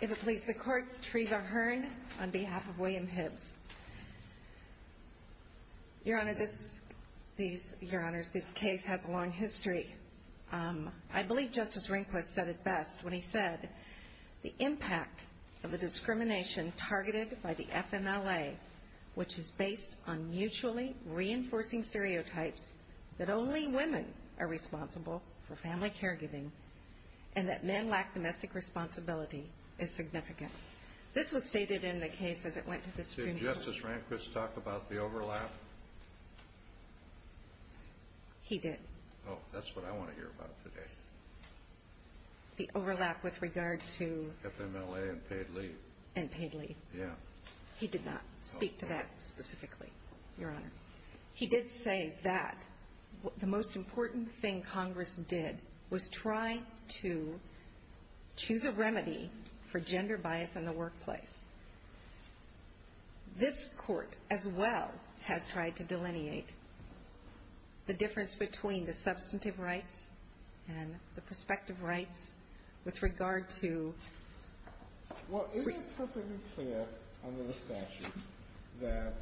If it please the Court, Treva Hearn on behalf of William Hibbs. Your Honor, this case has a long history. I believe Justice Rehnquist said it best when he said the impact of the discrimination targeted by the FMLA which is based on mutually reinforcing stereotypes that only women are responsible for family caregiving and that men lack domestic responsibility is significant. This was stated in the case as it went to the Supreme Court. Did Justice Rehnquist talk about the overlap? He did. Oh, that's what I want to hear about today. The overlap with regard to... FMLA and paid leave. And paid leave. Yeah. He did not speak to that specifically, Your Honor. He did say that the most important thing Congress did was try to choose a remedy for gender bias in the workplace. This Court, as well, has tried to delineate the difference between the substantive rights and the prospective rights with regard to... that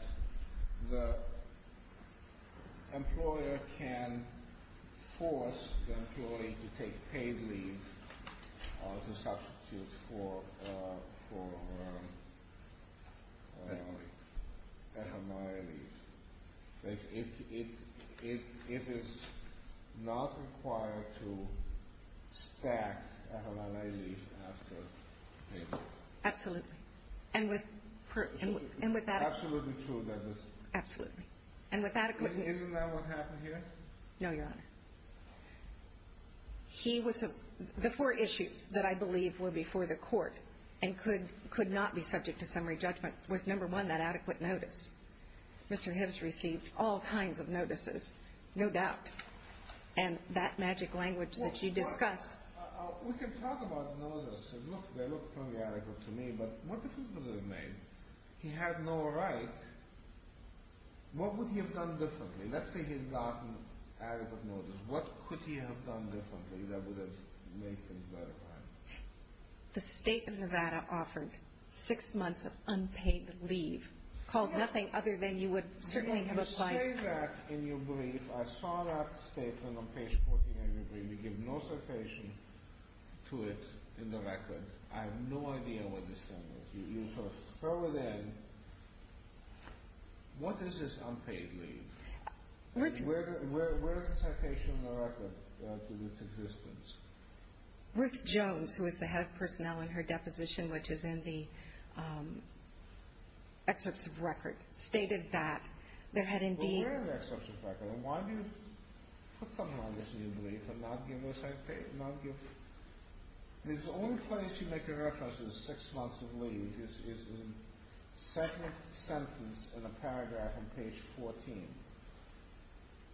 the employer can force the employee to take paid leave to substitute for FMLA leave. It is not required to stack FMLA leave after paid leave. Absolutely. It's absolutely true that this... Absolutely. And with adequate notice... Isn't that what happened here? No, Your Honor. The four issues that I believe were before the Court and could not be subject to summary judgment was, number one, that adequate notice. Mr. Hibbs received all kinds of notices, no doubt. And that magic language that you discussed... We can talk about notices. Look, they look totally adequate to me. But what difference does it make? He had no right. What would he have done differently? Let's say he had gotten adequate notice. What could he have done differently that would have made things better for him? The State of Nevada offered six months of unpaid leave, called nothing other than you would certainly have applied... If you say that in your brief, I saw that statement on page 49 of your brief. And you give no citation to it in the record. I have no idea what this statement is. You sort of throw it in. What is this unpaid leave? Where is the citation on the record to its existence? Ruth Jones, who is the head of personnel in her deposition, which is in the excerpts of record, stated that there had indeed... Why do you put something on this new brief and not give a citation? The only place you make a reference to the six months of leave is in the second sentence in the paragraph on page 14.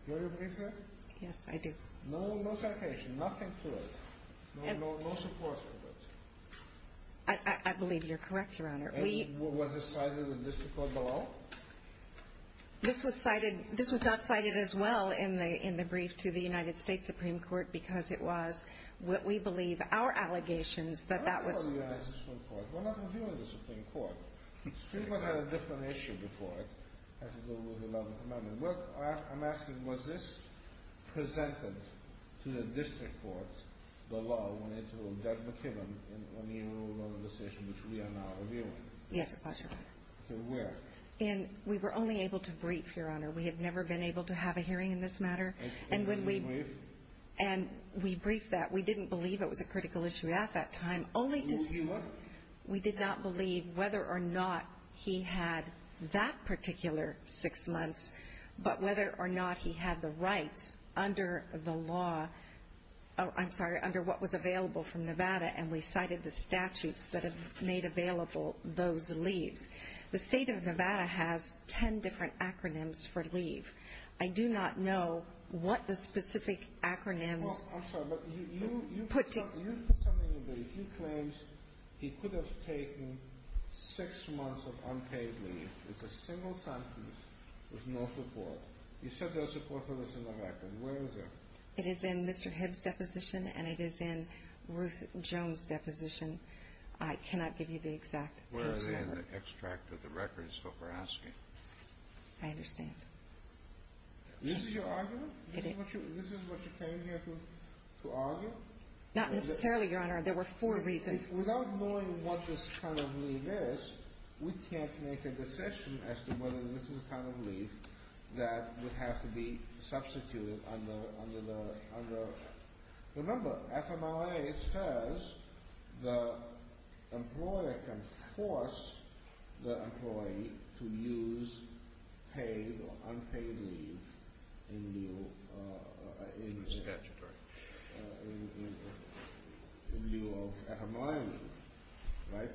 Do you have your brief there? Yes, I do. No citation, nothing to it. No support for it. I believe you're correct, Your Honor. Was it cited in this report below? This was cited. This was not cited as well in the brief to the United States Supreme Court because it was what we believe our allegations that that was... We're not reviewing the Supreme Court. The Supreme Court had a different issue before it. It had to do with the 11th Amendment. I'm asking, was this presented to the district court below when Judge McKibben, in the enrolled organization, which we are now reviewing? Yes, it was, Your Honor. So where? We were only able to brief, Your Honor. We have never been able to have a hearing in this matter. And we briefed that. We didn't believe it was a critical issue at that time. Only to see what? We did not believe whether or not he had that particular six months, but whether or not he had the rights under the law. I'm sorry, under what was available from Nevada, and we cited the statutes that have made available those leaves. The state of Nevada has ten different acronyms for leave. I do not know what the specific acronyms put together. Well, I'm sorry, but you put something in there. He claims he could have taken six months of unpaid leave with a single sentence with no support. You said there was support for this in the record. Where is it? It is in Mr. Hibbs' deposition, and it is in Ruth Jones' deposition. I cannot give you the exact case number. Where is it in the extract of the records that we're asking? I understand. This is your argument? This is what you came here to argue? Not necessarily, Your Honor. There were four reasons. Without knowing what this kind of leave is, we can't make a decision as to whether this is the kind of leave that would have to be substituted under the— remember, FMRA says the employer can force the employee to use paid or unpaid leave in lieu of FMRA leave, right?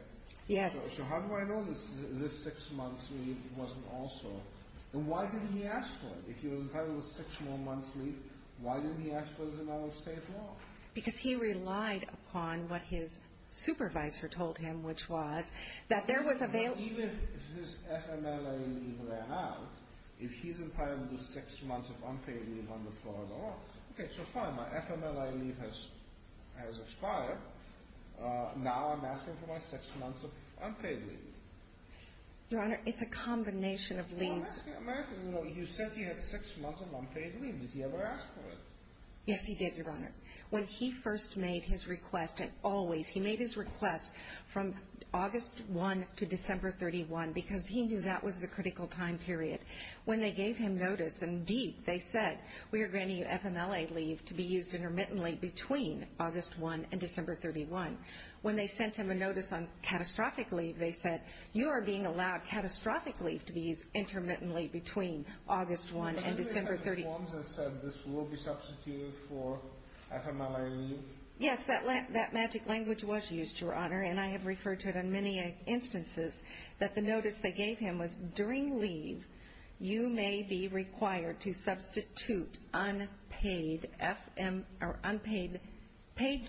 Yes. So how do I know this six months leave wasn't also— Why didn't he ask for it? If he was entitled to six more months leave, why didn't he ask for it as an out-of-state law? Because he relied upon what his supervisor told him, which was that there was— Even if his FMRA leave ran out, if he's entitled to six months of unpaid leave under Florida law, okay, so fine, my FMRA leave has expired. Now I'm asking for my six months of unpaid leave. Your Honor, it's a combination of leaves. I'm asking—you said he had six months of unpaid leave. Did he ever ask for it? Yes, he did, Your Honor. When he first made his request, and always he made his request from August 1 to December 31 because he knew that was the critical time period. When they gave him notice, indeed, they said, we are granting you FMLA leave to be used intermittently between August 1 and December 31. When they sent him a notice on catastrophic leave, they said, you are being allowed catastrophic leave to be used intermittently between August 1 and December 31. But didn't they have reforms that said this will be substituted for FMLA leave? Yes, that magic language was used, Your Honor, and I have referred to it in many instances, that the notice they gave him was, during leave, you may be required to substitute unpaid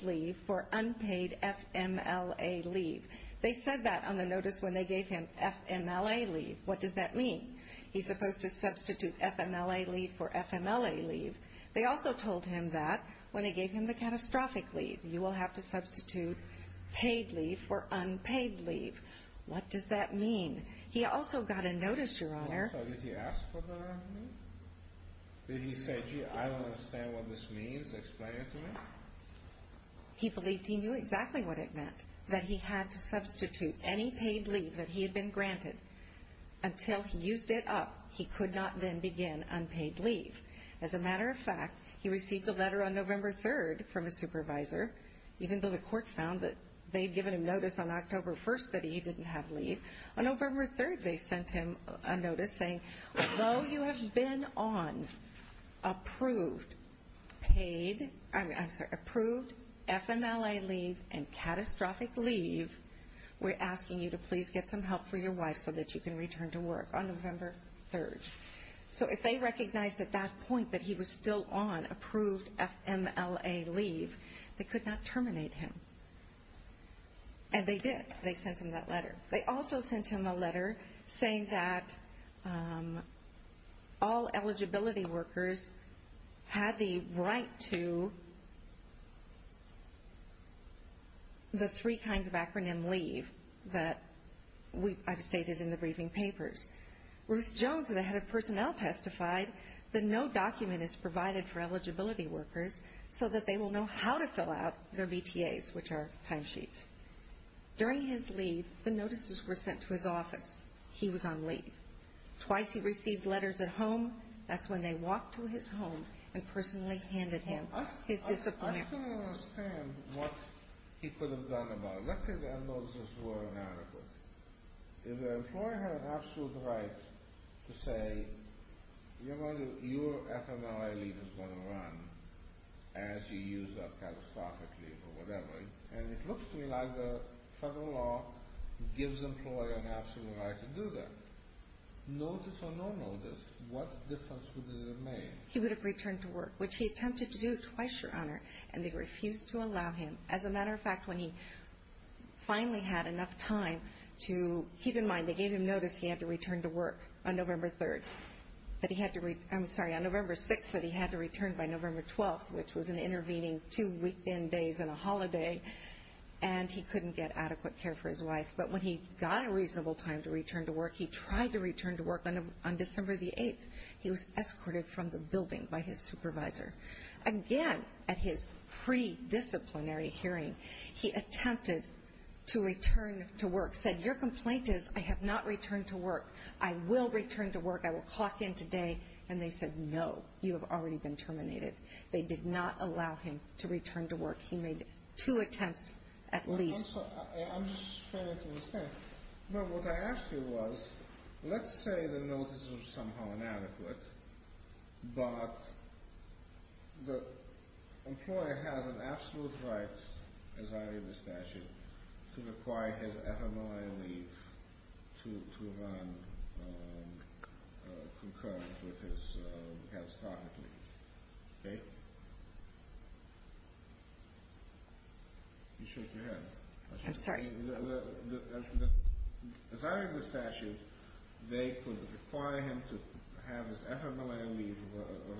leave for unpaid FMLA leave. They said that on the notice when they gave him FMLA leave. What does that mean? He's supposed to substitute FMLA leave for FMLA leave. They also told him that when they gave him the catastrophic leave, you will have to substitute paid leave for unpaid leave. What does that mean? He also got a notice, Your Honor— Also, did he ask for the leave? Did he say, gee, I don't understand what this means? Explain it to me? He believed he knew exactly what it meant, that he had to substitute any paid leave that he had been granted. Until he used it up, he could not then begin unpaid leave. As a matter of fact, he received a letter on November 3 from his supervisor, even though the court found that they had given him notice on October 1 that he didn't have leave. On November 3, they sent him a notice saying, Although you have been on approved FMLA leave and catastrophic leave, we're asking you to please get some help for your wife so that you can return to work on November 3. So if they recognized at that point that he was still on approved FMLA leave, they could not terminate him. And they did. They sent him that letter. They also sent him a letter saying that all eligibility workers had the right to the three kinds of acronym leave that I've stated in the briefing papers. Ruth Jones, the head of personnel, testified that no document is provided for eligibility workers so that they will know how to fill out their BTAs, which are timesheets. During his leave, the notices were sent to his office. He was on leave. Twice he received letters at home. That's when they walked to his home and personally handed him his discipline. I still don't understand what he could have done about it. Let's say that notices were inadequate. If the employer had an absolute right to say, Your FMLA leave is going to run as you use up catastrophic leave or whatever, and it looks to me like the federal law gives the employer an absolute right to do that. Notice or no notice, what difference would it have made? He would have returned to work, which he attempted to do twice, Your Honor, and they refused to allow him. As a matter of fact, when he finally had enough time to keep in mind, they gave him notice he had to return to work on November 3rd. I'm sorry, on November 6th that he had to return by November 12th, which was an intervening two weekend days and a holiday, and he couldn't get adequate care for his wife. But when he got a reasonable time to return to work, he tried to return to work on December 8th. He was escorted from the building by his supervisor. Again, at his pre-disciplinary hearing, he attempted to return to work, said, Your complaint is I have not returned to work. I will return to work. I will clock in today. And they said, No, you have already been terminated. They did not allow him to return to work. He made two attempts at least. I'm sorry. I'm just trying to understand. What I asked you was, let's say the notice was somehow inadequate, but the employer has an absolute right, as I read the statute, to require his ephemeral leave to run concurrent with his catastrophic leave. Okay? You shake your head. I'm sorry. As I read the statute, they could require him to have his ephemeral leave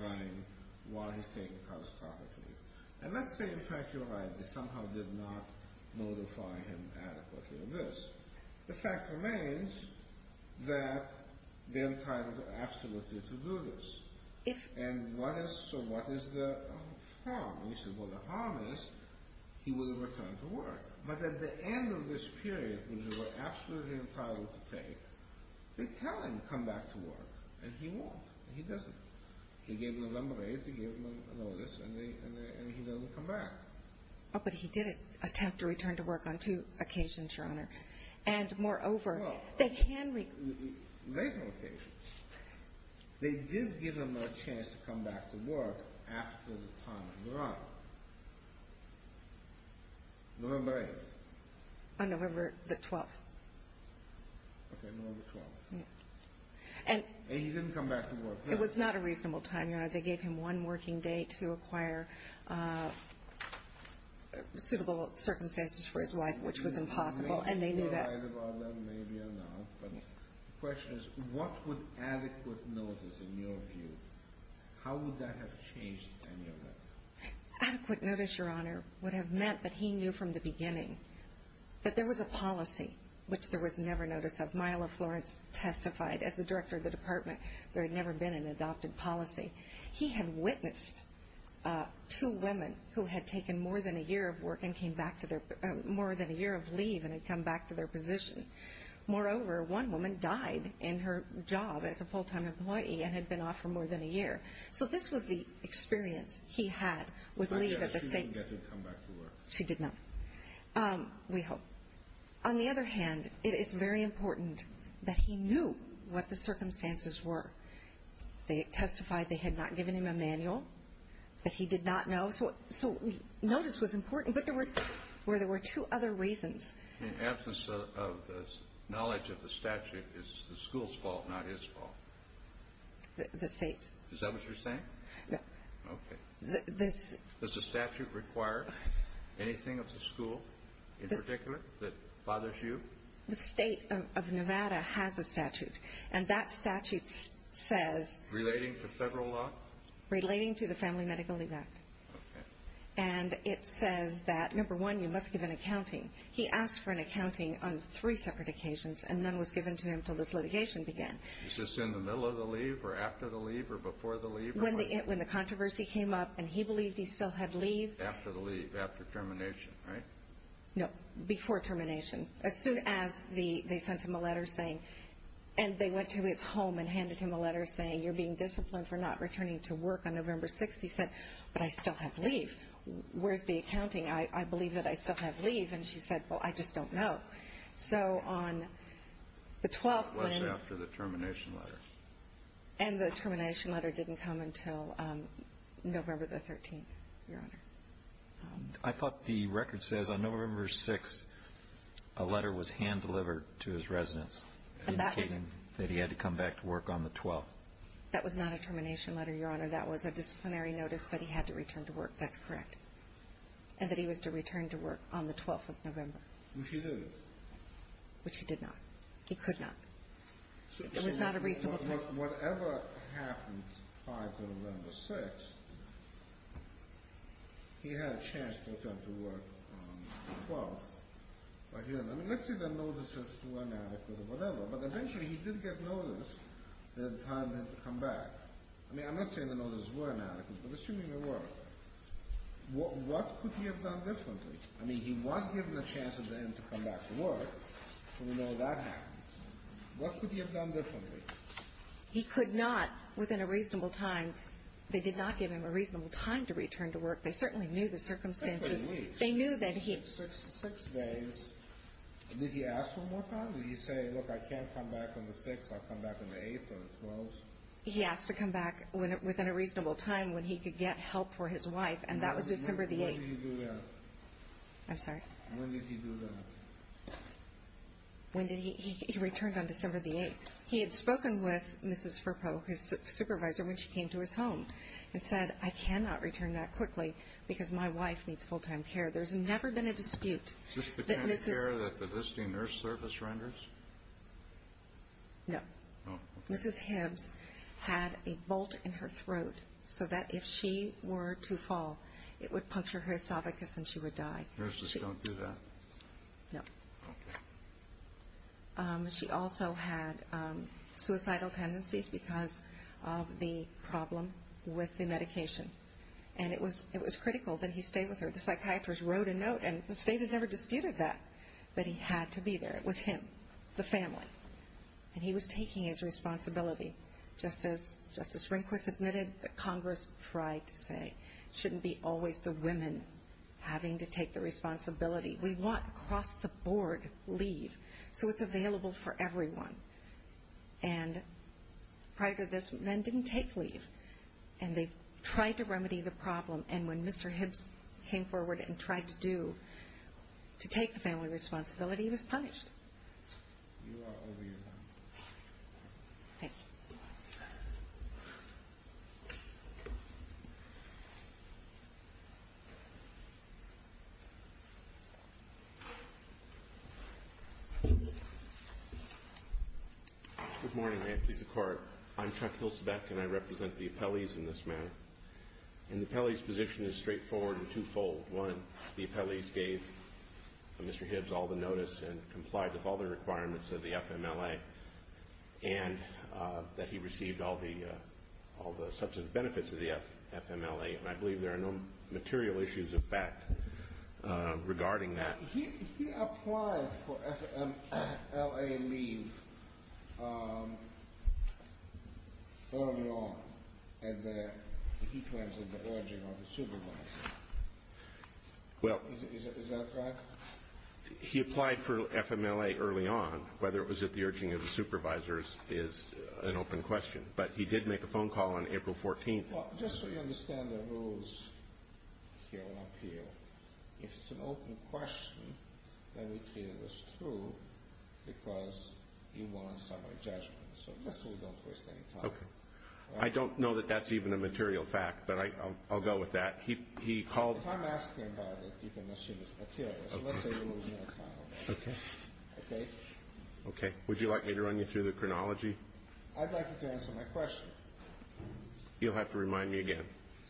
running while he's taking catastrophic leave. And let's say, in fact, you're right. They somehow did not notify him adequately of this. The fact remains that they're entitled absolutely to do this. And what is the harm? Well, the harm is he will return to work. But at the end of this period, which they were absolutely entitled to take, they tell him to come back to work, and he won't. He doesn't. They gave him November 8th, they gave him a notice, and he doesn't come back. But he did attempt to return to work on two occasions, Your Honor. And moreover, they can re- Well, there's no occasion. They did give him a chance to come back to work after the time had run. November 8th. On November the 12th. Okay, November the 12th. And he didn't come back to work then. It was not a reasonable time, Your Honor. They gave him one working day to acquire suitable circumstances for his wife, which was impossible, and they knew that. You're right about that, maybe or not. But the question is, what would adequate notice, in your view, how would that have changed any of that? Adequate notice, Your Honor, would have meant that he knew from the beginning that there was a policy, which there was never notice of. As Myla Florence testified, as the director of the department, there had never been an adopted policy. He had witnessed two women who had taken more than a year of work and came back to their-more than a year of leave and had come back to their position. Moreover, one woman died in her job as a full-time employee and had been off for more than a year. So this was the experience he had with leave at the state- But he never knew that she would come back to work. She did not, we hope. On the other hand, it is very important that he knew what the circumstances were. They testified they had not given him a manual, that he did not know. So notice was important, but there were two other reasons. In absence of the knowledge of the statute, is the school's fault, not his fault? The state's. Is that what you're saying? Yes. Okay. Does the statute require anything of the school in particular that bothers you? The state of Nevada has a statute, and that statute says- Relating to federal law? Relating to the Family Medical Leave Act. Okay. And it says that, number one, you must give an accounting. He asked for an accounting on three separate occasions, and none was given to him until this litigation began. Was this in the middle of the leave or after the leave or before the leave? When the controversy came up and he believed he still had leave- After the leave, after termination, right? No, before termination. As soon as they sent him a letter saying- and they went to his home and handed him a letter saying, you're being disciplined for not returning to work on November 6th. He said, but I still have leave. Where's the accounting? I believe that I still have leave. And she said, well, I just don't know. So on the 12th when- It was after the termination letter. And the termination letter didn't come until November the 13th, Your Honor. I thought the record says on November 6th a letter was hand-delivered to his residence indicating that he had to come back to work on the 12th. That was not a termination letter, Your Honor. That was a disciplinary notice that he had to return to work. That's correct. And that he was to return to work on the 12th of November. Which he did. Which he did not. He could not. It was not a reasonable time. Whatever happened prior to November 6th, he had a chance to return to work on the 12th. Let's say the notices were inadequate or whatever, but eventually he did get notice that it was time to come back. I mean, I'm not saying the notices were inadequate, but assuming they were, what could he have done differently? I mean, he was given a chance at the end to come back to work, so we know that happened. What could he have done differently? He could not, within a reasonable time. They did not give him a reasonable time to return to work. They certainly knew the circumstances. They knew that he had six days. Did he ask for more time? Did he say, look, I can't come back on the 6th. I'll come back on the 8th or the 12th? He asked to come back within a reasonable time when he could get help for his wife, and that was December the 8th. When did he do that? I'm sorry? When did he do that? He returned on December the 8th. He had spoken with Mrs. Firpo, his supervisor, when she came to his home and said, I cannot return that quickly because my wife needs full-time care. There's never been a dispute. Is this the kind of care that the visiting nurse service renders? No. Mrs. Hibbs had a bolt in her throat so that if she were to fall, it would puncture her esophagus and she would die. Nurses don't do that? No. She also had suicidal tendencies because of the problem with the medication, and it was critical that he stay with her. The psychiatrist wrote a note, and the state has never disputed that, that he had to be there. It was him, the family, and he was taking his responsibility. Just as Justice Rehnquist admitted, the Congress tried to say it shouldn't be always the women having to take the responsibility. We want across the board leave so it's available for everyone. And prior to this, men didn't take leave, and they tried to remedy the problem. And when Mr. Hibbs came forward and tried to do, to take the family responsibility, he was punished. You are over your time. Thank you. Good morning. I am pleased to court. I'm Chuck Hilsebeck, and I represent the appellees in this matter. And the appellee's position is straightforward and twofold. One, the appellees gave Mr. Hibbs all the notice and complied with all the requirements of the FMLA, and that he received all the substance benefits of the FMLA, and I believe there are no material issues of fact regarding that. He applied for FMLA leave early on, and he claims that the urging of the supervisors. Is that correct? He applied for FMLA early on. Whether it was at the urging of the supervisors is an open question. But he did make a phone call on April 14th. Well, just so you understand the rules here on appeal, if it's an open question, then we treat it as true because you want a summary judgment. So just so we don't waste any time. Okay. I don't know that that's even a material fact, but I'll go with that. He called. If I'm asking about it, you can assume it's material. Okay. Okay. Okay? Okay. Would you like me to run you through the chronology? I'd like you to answer my question. You'll have to remind me again.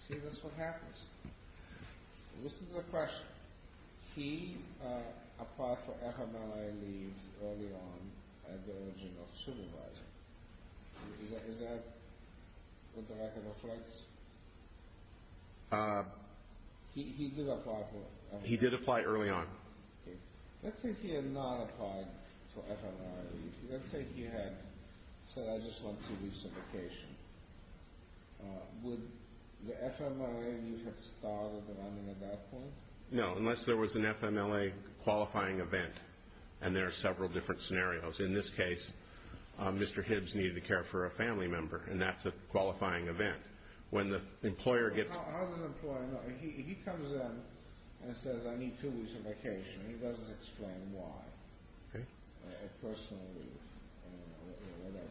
See, that's what happens. Listen to the question. He applied for FMLA leave early on at the urging of the supervisor. Is that what the record reflects? He did apply for FMLA. He did apply early on. Okay. Let's say he had not applied for FMLA leave. Let's say he had said, I just want two weeks of vacation. Would the FMLA leave have started at that point? No, unless there was an FMLA qualifying event, and there are several different scenarios. In this case, Mr. Hibbs needed to care for a family member, and that's a qualifying event. How does an employer know? He comes in and says, I need two weeks of vacation. He doesn't explain why. Okay. A personal leave or whatever.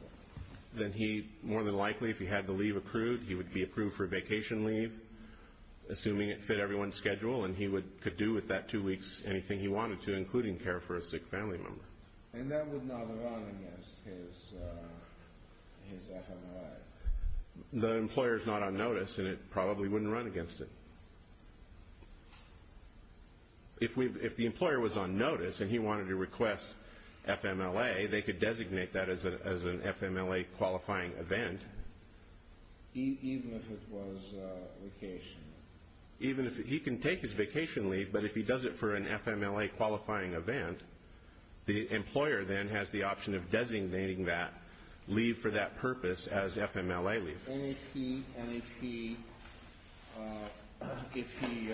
Then he, more than likely, if he had the leave approved, he would be approved for vacation leave, assuming it fit everyone's schedule, and he could do with that two weeks anything he wanted to, including care for a sick family member. And that would not run against his FMLA? The employer is not on notice, and it probably wouldn't run against it. If the employer was on notice and he wanted to request FMLA, they could designate that as an FMLA qualifying event. Even if it was vacation? He can take his vacation leave, but if he does it for an FMLA qualifying event, the employer then has the option of designating that leave for that purpose as FMLA leave. If he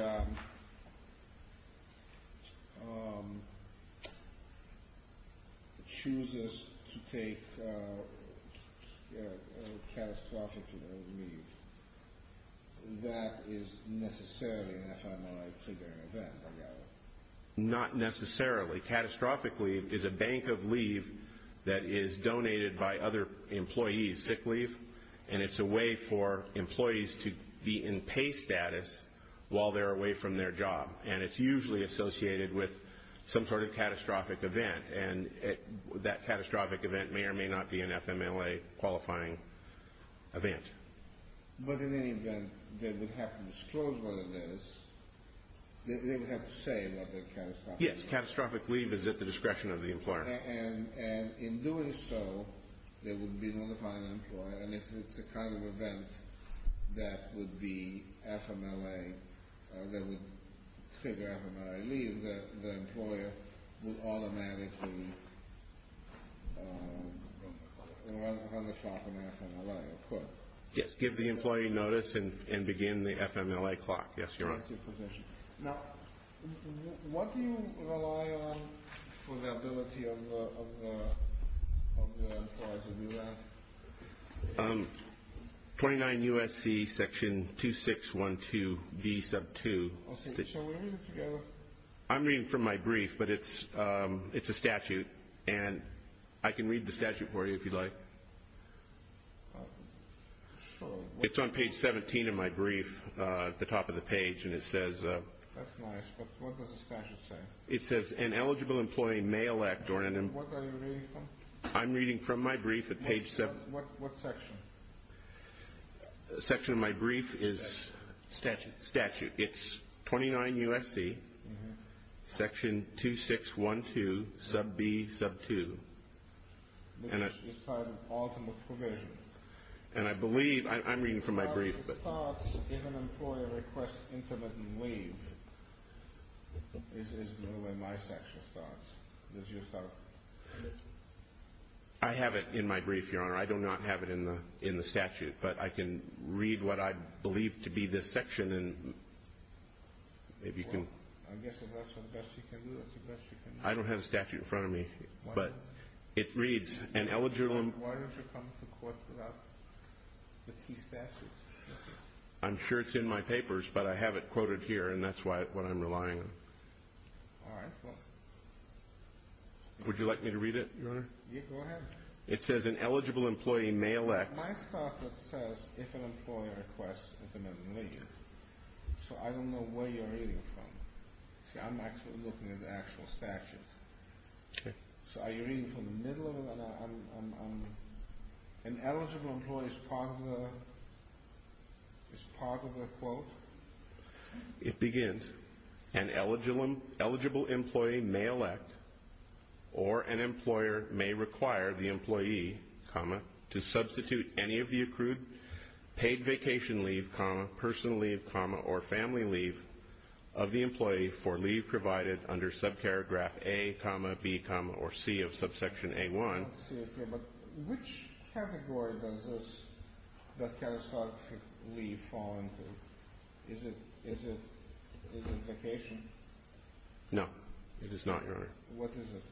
chooses to take a catastrophic leave, that is necessarily an FMLA triggering event? Not necessarily. Catastrophic leave is a bank of leave that is donated by other employees, sick leave, and it's a way for employees to be in pay status while they're away from their job. And it's usually associated with some sort of catastrophic event, and that catastrophic event may or may not be an FMLA qualifying event. But in any event, they would have to disclose what it is. They would have to say about that catastrophic leave. Yes, catastrophic leave is at the discretion of the employer. And in doing so, they would be notified by the employer, and if it's the kind of event that would trigger FMLA leave, the employer would automatically run the clock on FMLA. Yes, give the employee notice and begin the FMLA clock. Yes, Your Honor. Now, what do you rely on for the ability of the employer to do that? 29 U.S.C. Section 2612B2. I'm reading from my brief, but it's a statute, and I can read the statute for you if you'd like. It's on page 17 of my brief at the top of the page, and it says… That's nice, but what does the statute say? It says, An Eligible Employee May Elect… What are you reading from? I'm reading from my brief at page 17. What section? The section of my brief is… Statute. Statute. It's 29 U.S.C. Section 2612B2. Which is part of the ultimate provision. And I believe… I'm reading from my brief, but… The statute starts, If an Employer Requests Intermittent Leave. This is where my section starts. This is your section. I have it in my brief, Your Honor. I do not have it in the statute, but I can read what I believe to be this section, and maybe you can… Well, I guess if that's the best you can do, that's the best you can do. I don't have the statute in front of me, but it reads, An Eligible… Why don't you come to court without the key statute? I'm sure it's in my papers, but I have it quoted here, and that's what I'm relying on. All right. Would you like me to read it, Your Honor? Yeah, go ahead. It says, An Eligible Employee May Elect… My stuff, it says, If an Employer Requests Intermittent Leave. So I don't know where you're reading from. See, I'm actually looking at the actual statute. Okay. So are you reading from the middle? An Eligible Employee is part of the quote? It begins, An Eligible Employee May Elect or an Employer May Require the Employee, to substitute any of the accrued paid vacation leave, personal leave, or family leave of the employee for leave provided under sub-paragraph A, B, or C of subsection A-1. But which category does that catastrophic leave fall into? Is it vacation? No, it is not, Your Honor. What is it?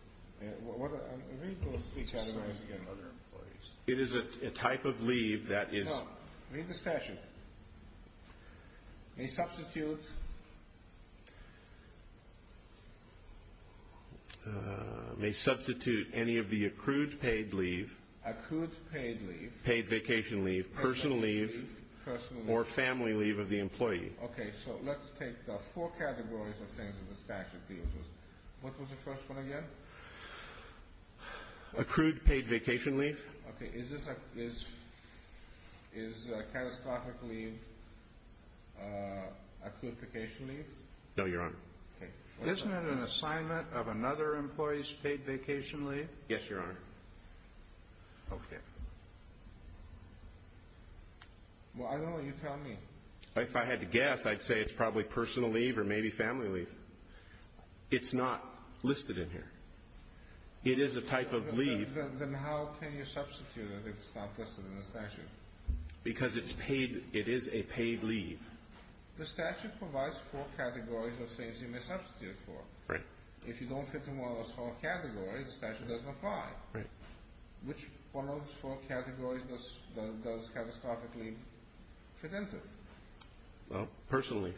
Read those three categories again. It is a type of leave that is… No, read the statute. May substitute… May substitute any of the accrued paid leave. Accrued paid leave. Paid vacation leave, personal leave, or family leave of the employee. Okay, so let's take the four categories of things in the statute. What was the first one again? Accrued paid vacation leave. Okay, is catastrophic leave accrued vacation leave? No, Your Honor. Okay. Isn't it an assignment of another employee's paid vacation leave? Yes, Your Honor. Okay. Well, I don't know. You tell me. If I had to guess, I'd say it's probably personal leave or maybe family leave. It's not listed in here. It is a type of leave. Then how can you substitute it if it's not listed in the statute? Because it is a paid leave. The statute provides four categories of things you may substitute for. Right. If you don't fit in one of those four categories, the statute doesn't apply. Right. Which one of those four categories does catastrophic leave fit into? Well, personal leave.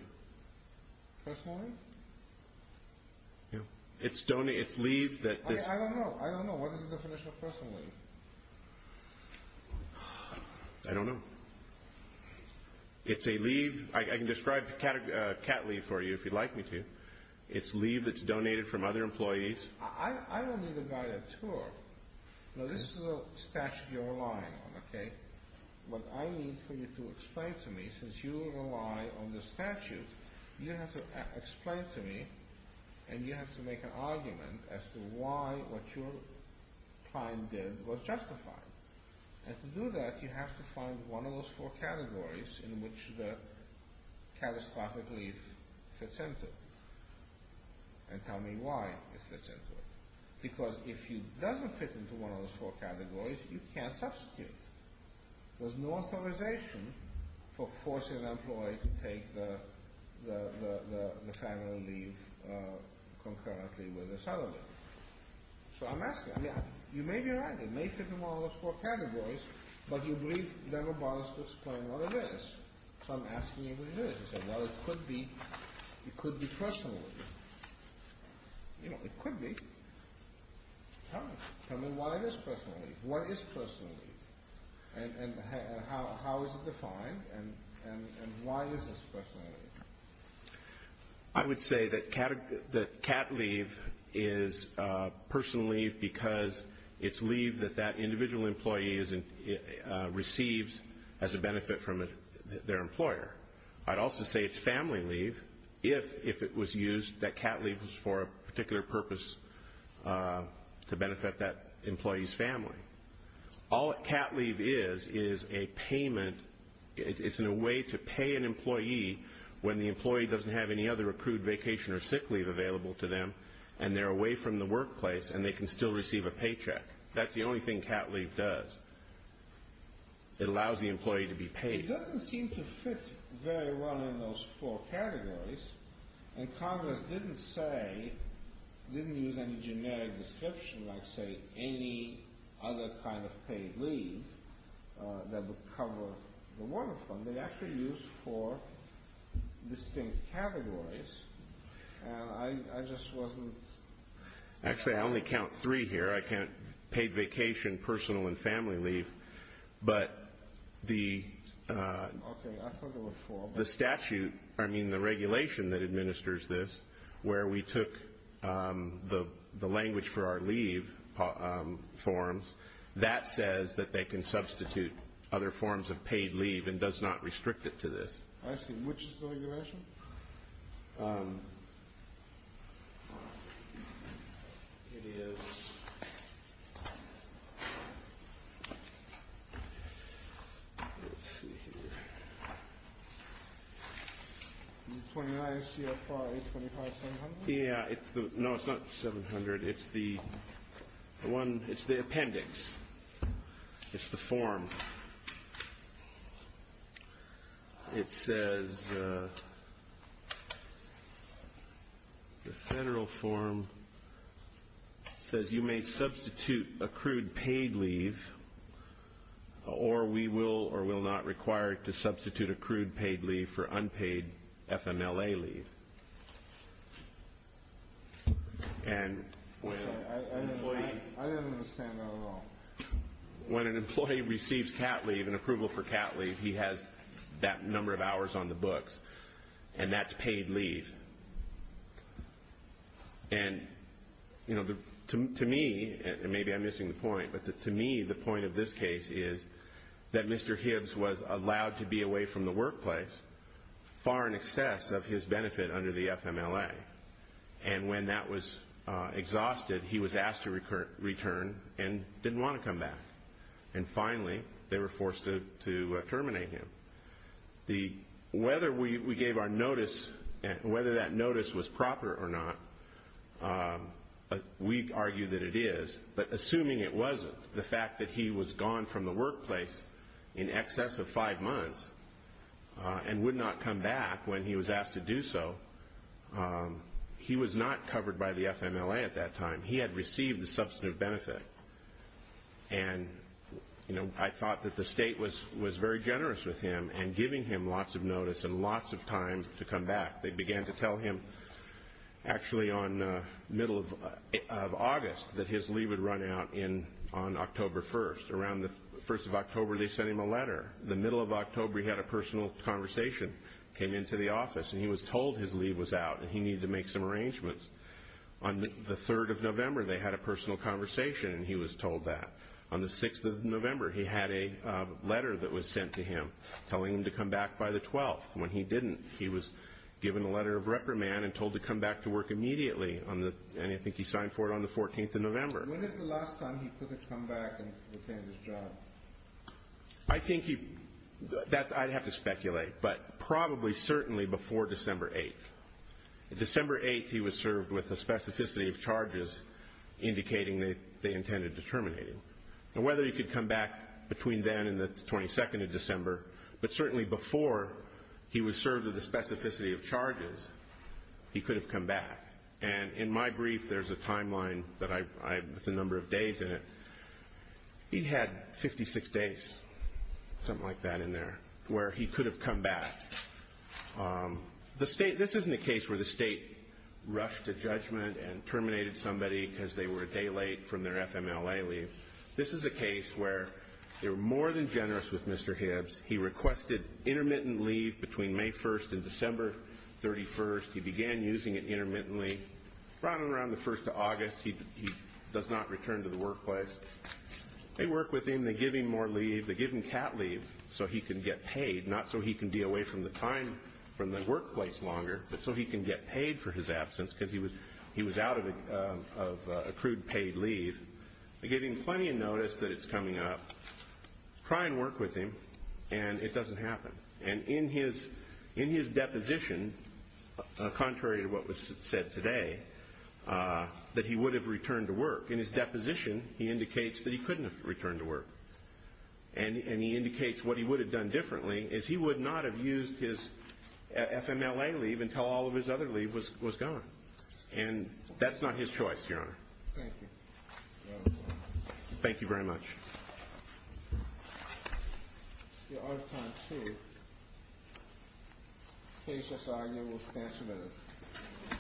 Personal leave? It's leave that this I don't know. I don't know. What is the definition of personal leave? I don't know. It's a leave. I can describe cat leave for you if you'd like me to. It's leave that's donated from other employees. I don't need a guided tour. Now, this is a statute you're relying on, okay? What I need for you to explain to me, since you rely on the statute, you have to explain to me and you have to make an argument as to why what your client did was justified. And to do that, you have to find one of those four categories in which the catastrophic leave fits into and tell me why it fits into it. Because if it doesn't fit into one of those four categories, you can't substitute. There's no authorization for forcing an employee to take the family leave concurrently with a settler. So I'm asking. You may be right. It may fit in one of those four categories, but you believe it never bothers to explain what it is. So I'm asking you what it is. Well, it could be personal leave. You know, it could be. Tell me why it is personal leave. What is personal leave? And how is it defined? And why is this personal leave? I would say that cat leave is personal leave because it's leave that that individual employee receives as a benefit from their employer. I'd also say it's family leave if it was used, that cat leave was for a particular purpose to benefit that employee's family. All cat leave is is a payment. It's in a way to pay an employee when the employee doesn't have any other accrued vacation or sick leave available to them and they're away from the workplace and they can still receive a paycheck. That's the only thing cat leave does. It allows the employee to be paid. It doesn't seem to fit very well in those four categories, and Congress didn't say, didn't use any generic description, like, say, any other kind of paid leave that would cover one of them. They actually used four distinct categories, and I just wasn't. Actually, I only count three here. I count paid vacation, personal, and family leave, but the statute, I mean the regulation that administers this where we took the language for our leave forms, that says that they can substitute other forms of paid leave and does not restrict it to this. I see. Which is the regulation? It is. Let's see here. Is it 29 CFR 825-700? Yeah. No, it's not 700. It's the appendix. It's the form. It says the federal form says you may substitute accrued paid leave or we will or will not require it to substitute accrued paid leave for unpaid FMLA leave. I didn't understand that at all. When an employee receives CAT leave, an approval for CAT leave, he has that number of hours on the books, and that's paid leave. And, you know, to me, and maybe I'm missing the point, but to me the point of this case is that Mr. Hibbs was allowed to be away from the workplace far in excess of his benefit under the FMLA, and when that was exhausted, he was asked to return and didn't want to come back. And, finally, they were forced to terminate him. Whether we gave our notice, whether that notice was proper or not, we argue that it is, but assuming it wasn't, the fact that he was gone from the workplace in excess of five months and would not come back when he was asked to do so, he was not covered by the FMLA at that time. He had received the substantive benefit, and I thought that the state was very generous with him and giving him lots of notice and lots of time to come back. They began to tell him actually on the middle of August that his leave would run out on October 1st. Around the first of October they sent him a letter. The middle of October he had a personal conversation, came into the office, and he was told his leave was out and he needed to make some arrangements. On the 3rd of November they had a personal conversation, and he was told that. On the 6th of November he had a letter that was sent to him telling him to come back by the 12th. When he didn't, he was given a letter of reprimand and told to come back to work immediately, and I think he signed for it on the 14th of November. When is the last time he took a comeback and retained his job? I think he... I'd have to speculate, but probably certainly before December 8th. December 8th he was served with a specificity of charges indicating they intended to terminate him. Now whether he could come back between then and the 22nd of December, but certainly before he was served with a specificity of charges, he could have come back. And in my brief there's a timeline with a number of days in it. He had 56 days, something like that in there, where he could have come back. This isn't a case where the state rushed a judgment and terminated somebody because they were a day late from their FMLA leave. This is a case where they were more than generous with Mr. Hibbs. He requested intermittent leave between May 1st and December 31st. He began using it intermittently. From around the 1st of August he does not return to the workplace. They work with him. They give him more leave. They give him cat leave so he can get paid, not so he can be away from the time from the workplace longer, but so he can get paid for his absence because he was out of accrued paid leave. They give him plenty of notice that it's coming up. Try and work with him, and it doesn't happen. And in his deposition, contrary to what was said today, that he would have returned to work. In his deposition he indicates that he couldn't have returned to work, and he indicates what he would have done differently is he would not have used his FMLA leave until all of his other leave was gone. And that's not his choice, Your Honor. Thank you. Thank you very much. Thank you. Your Honor, time is up. The case is argued. We'll stand submitted.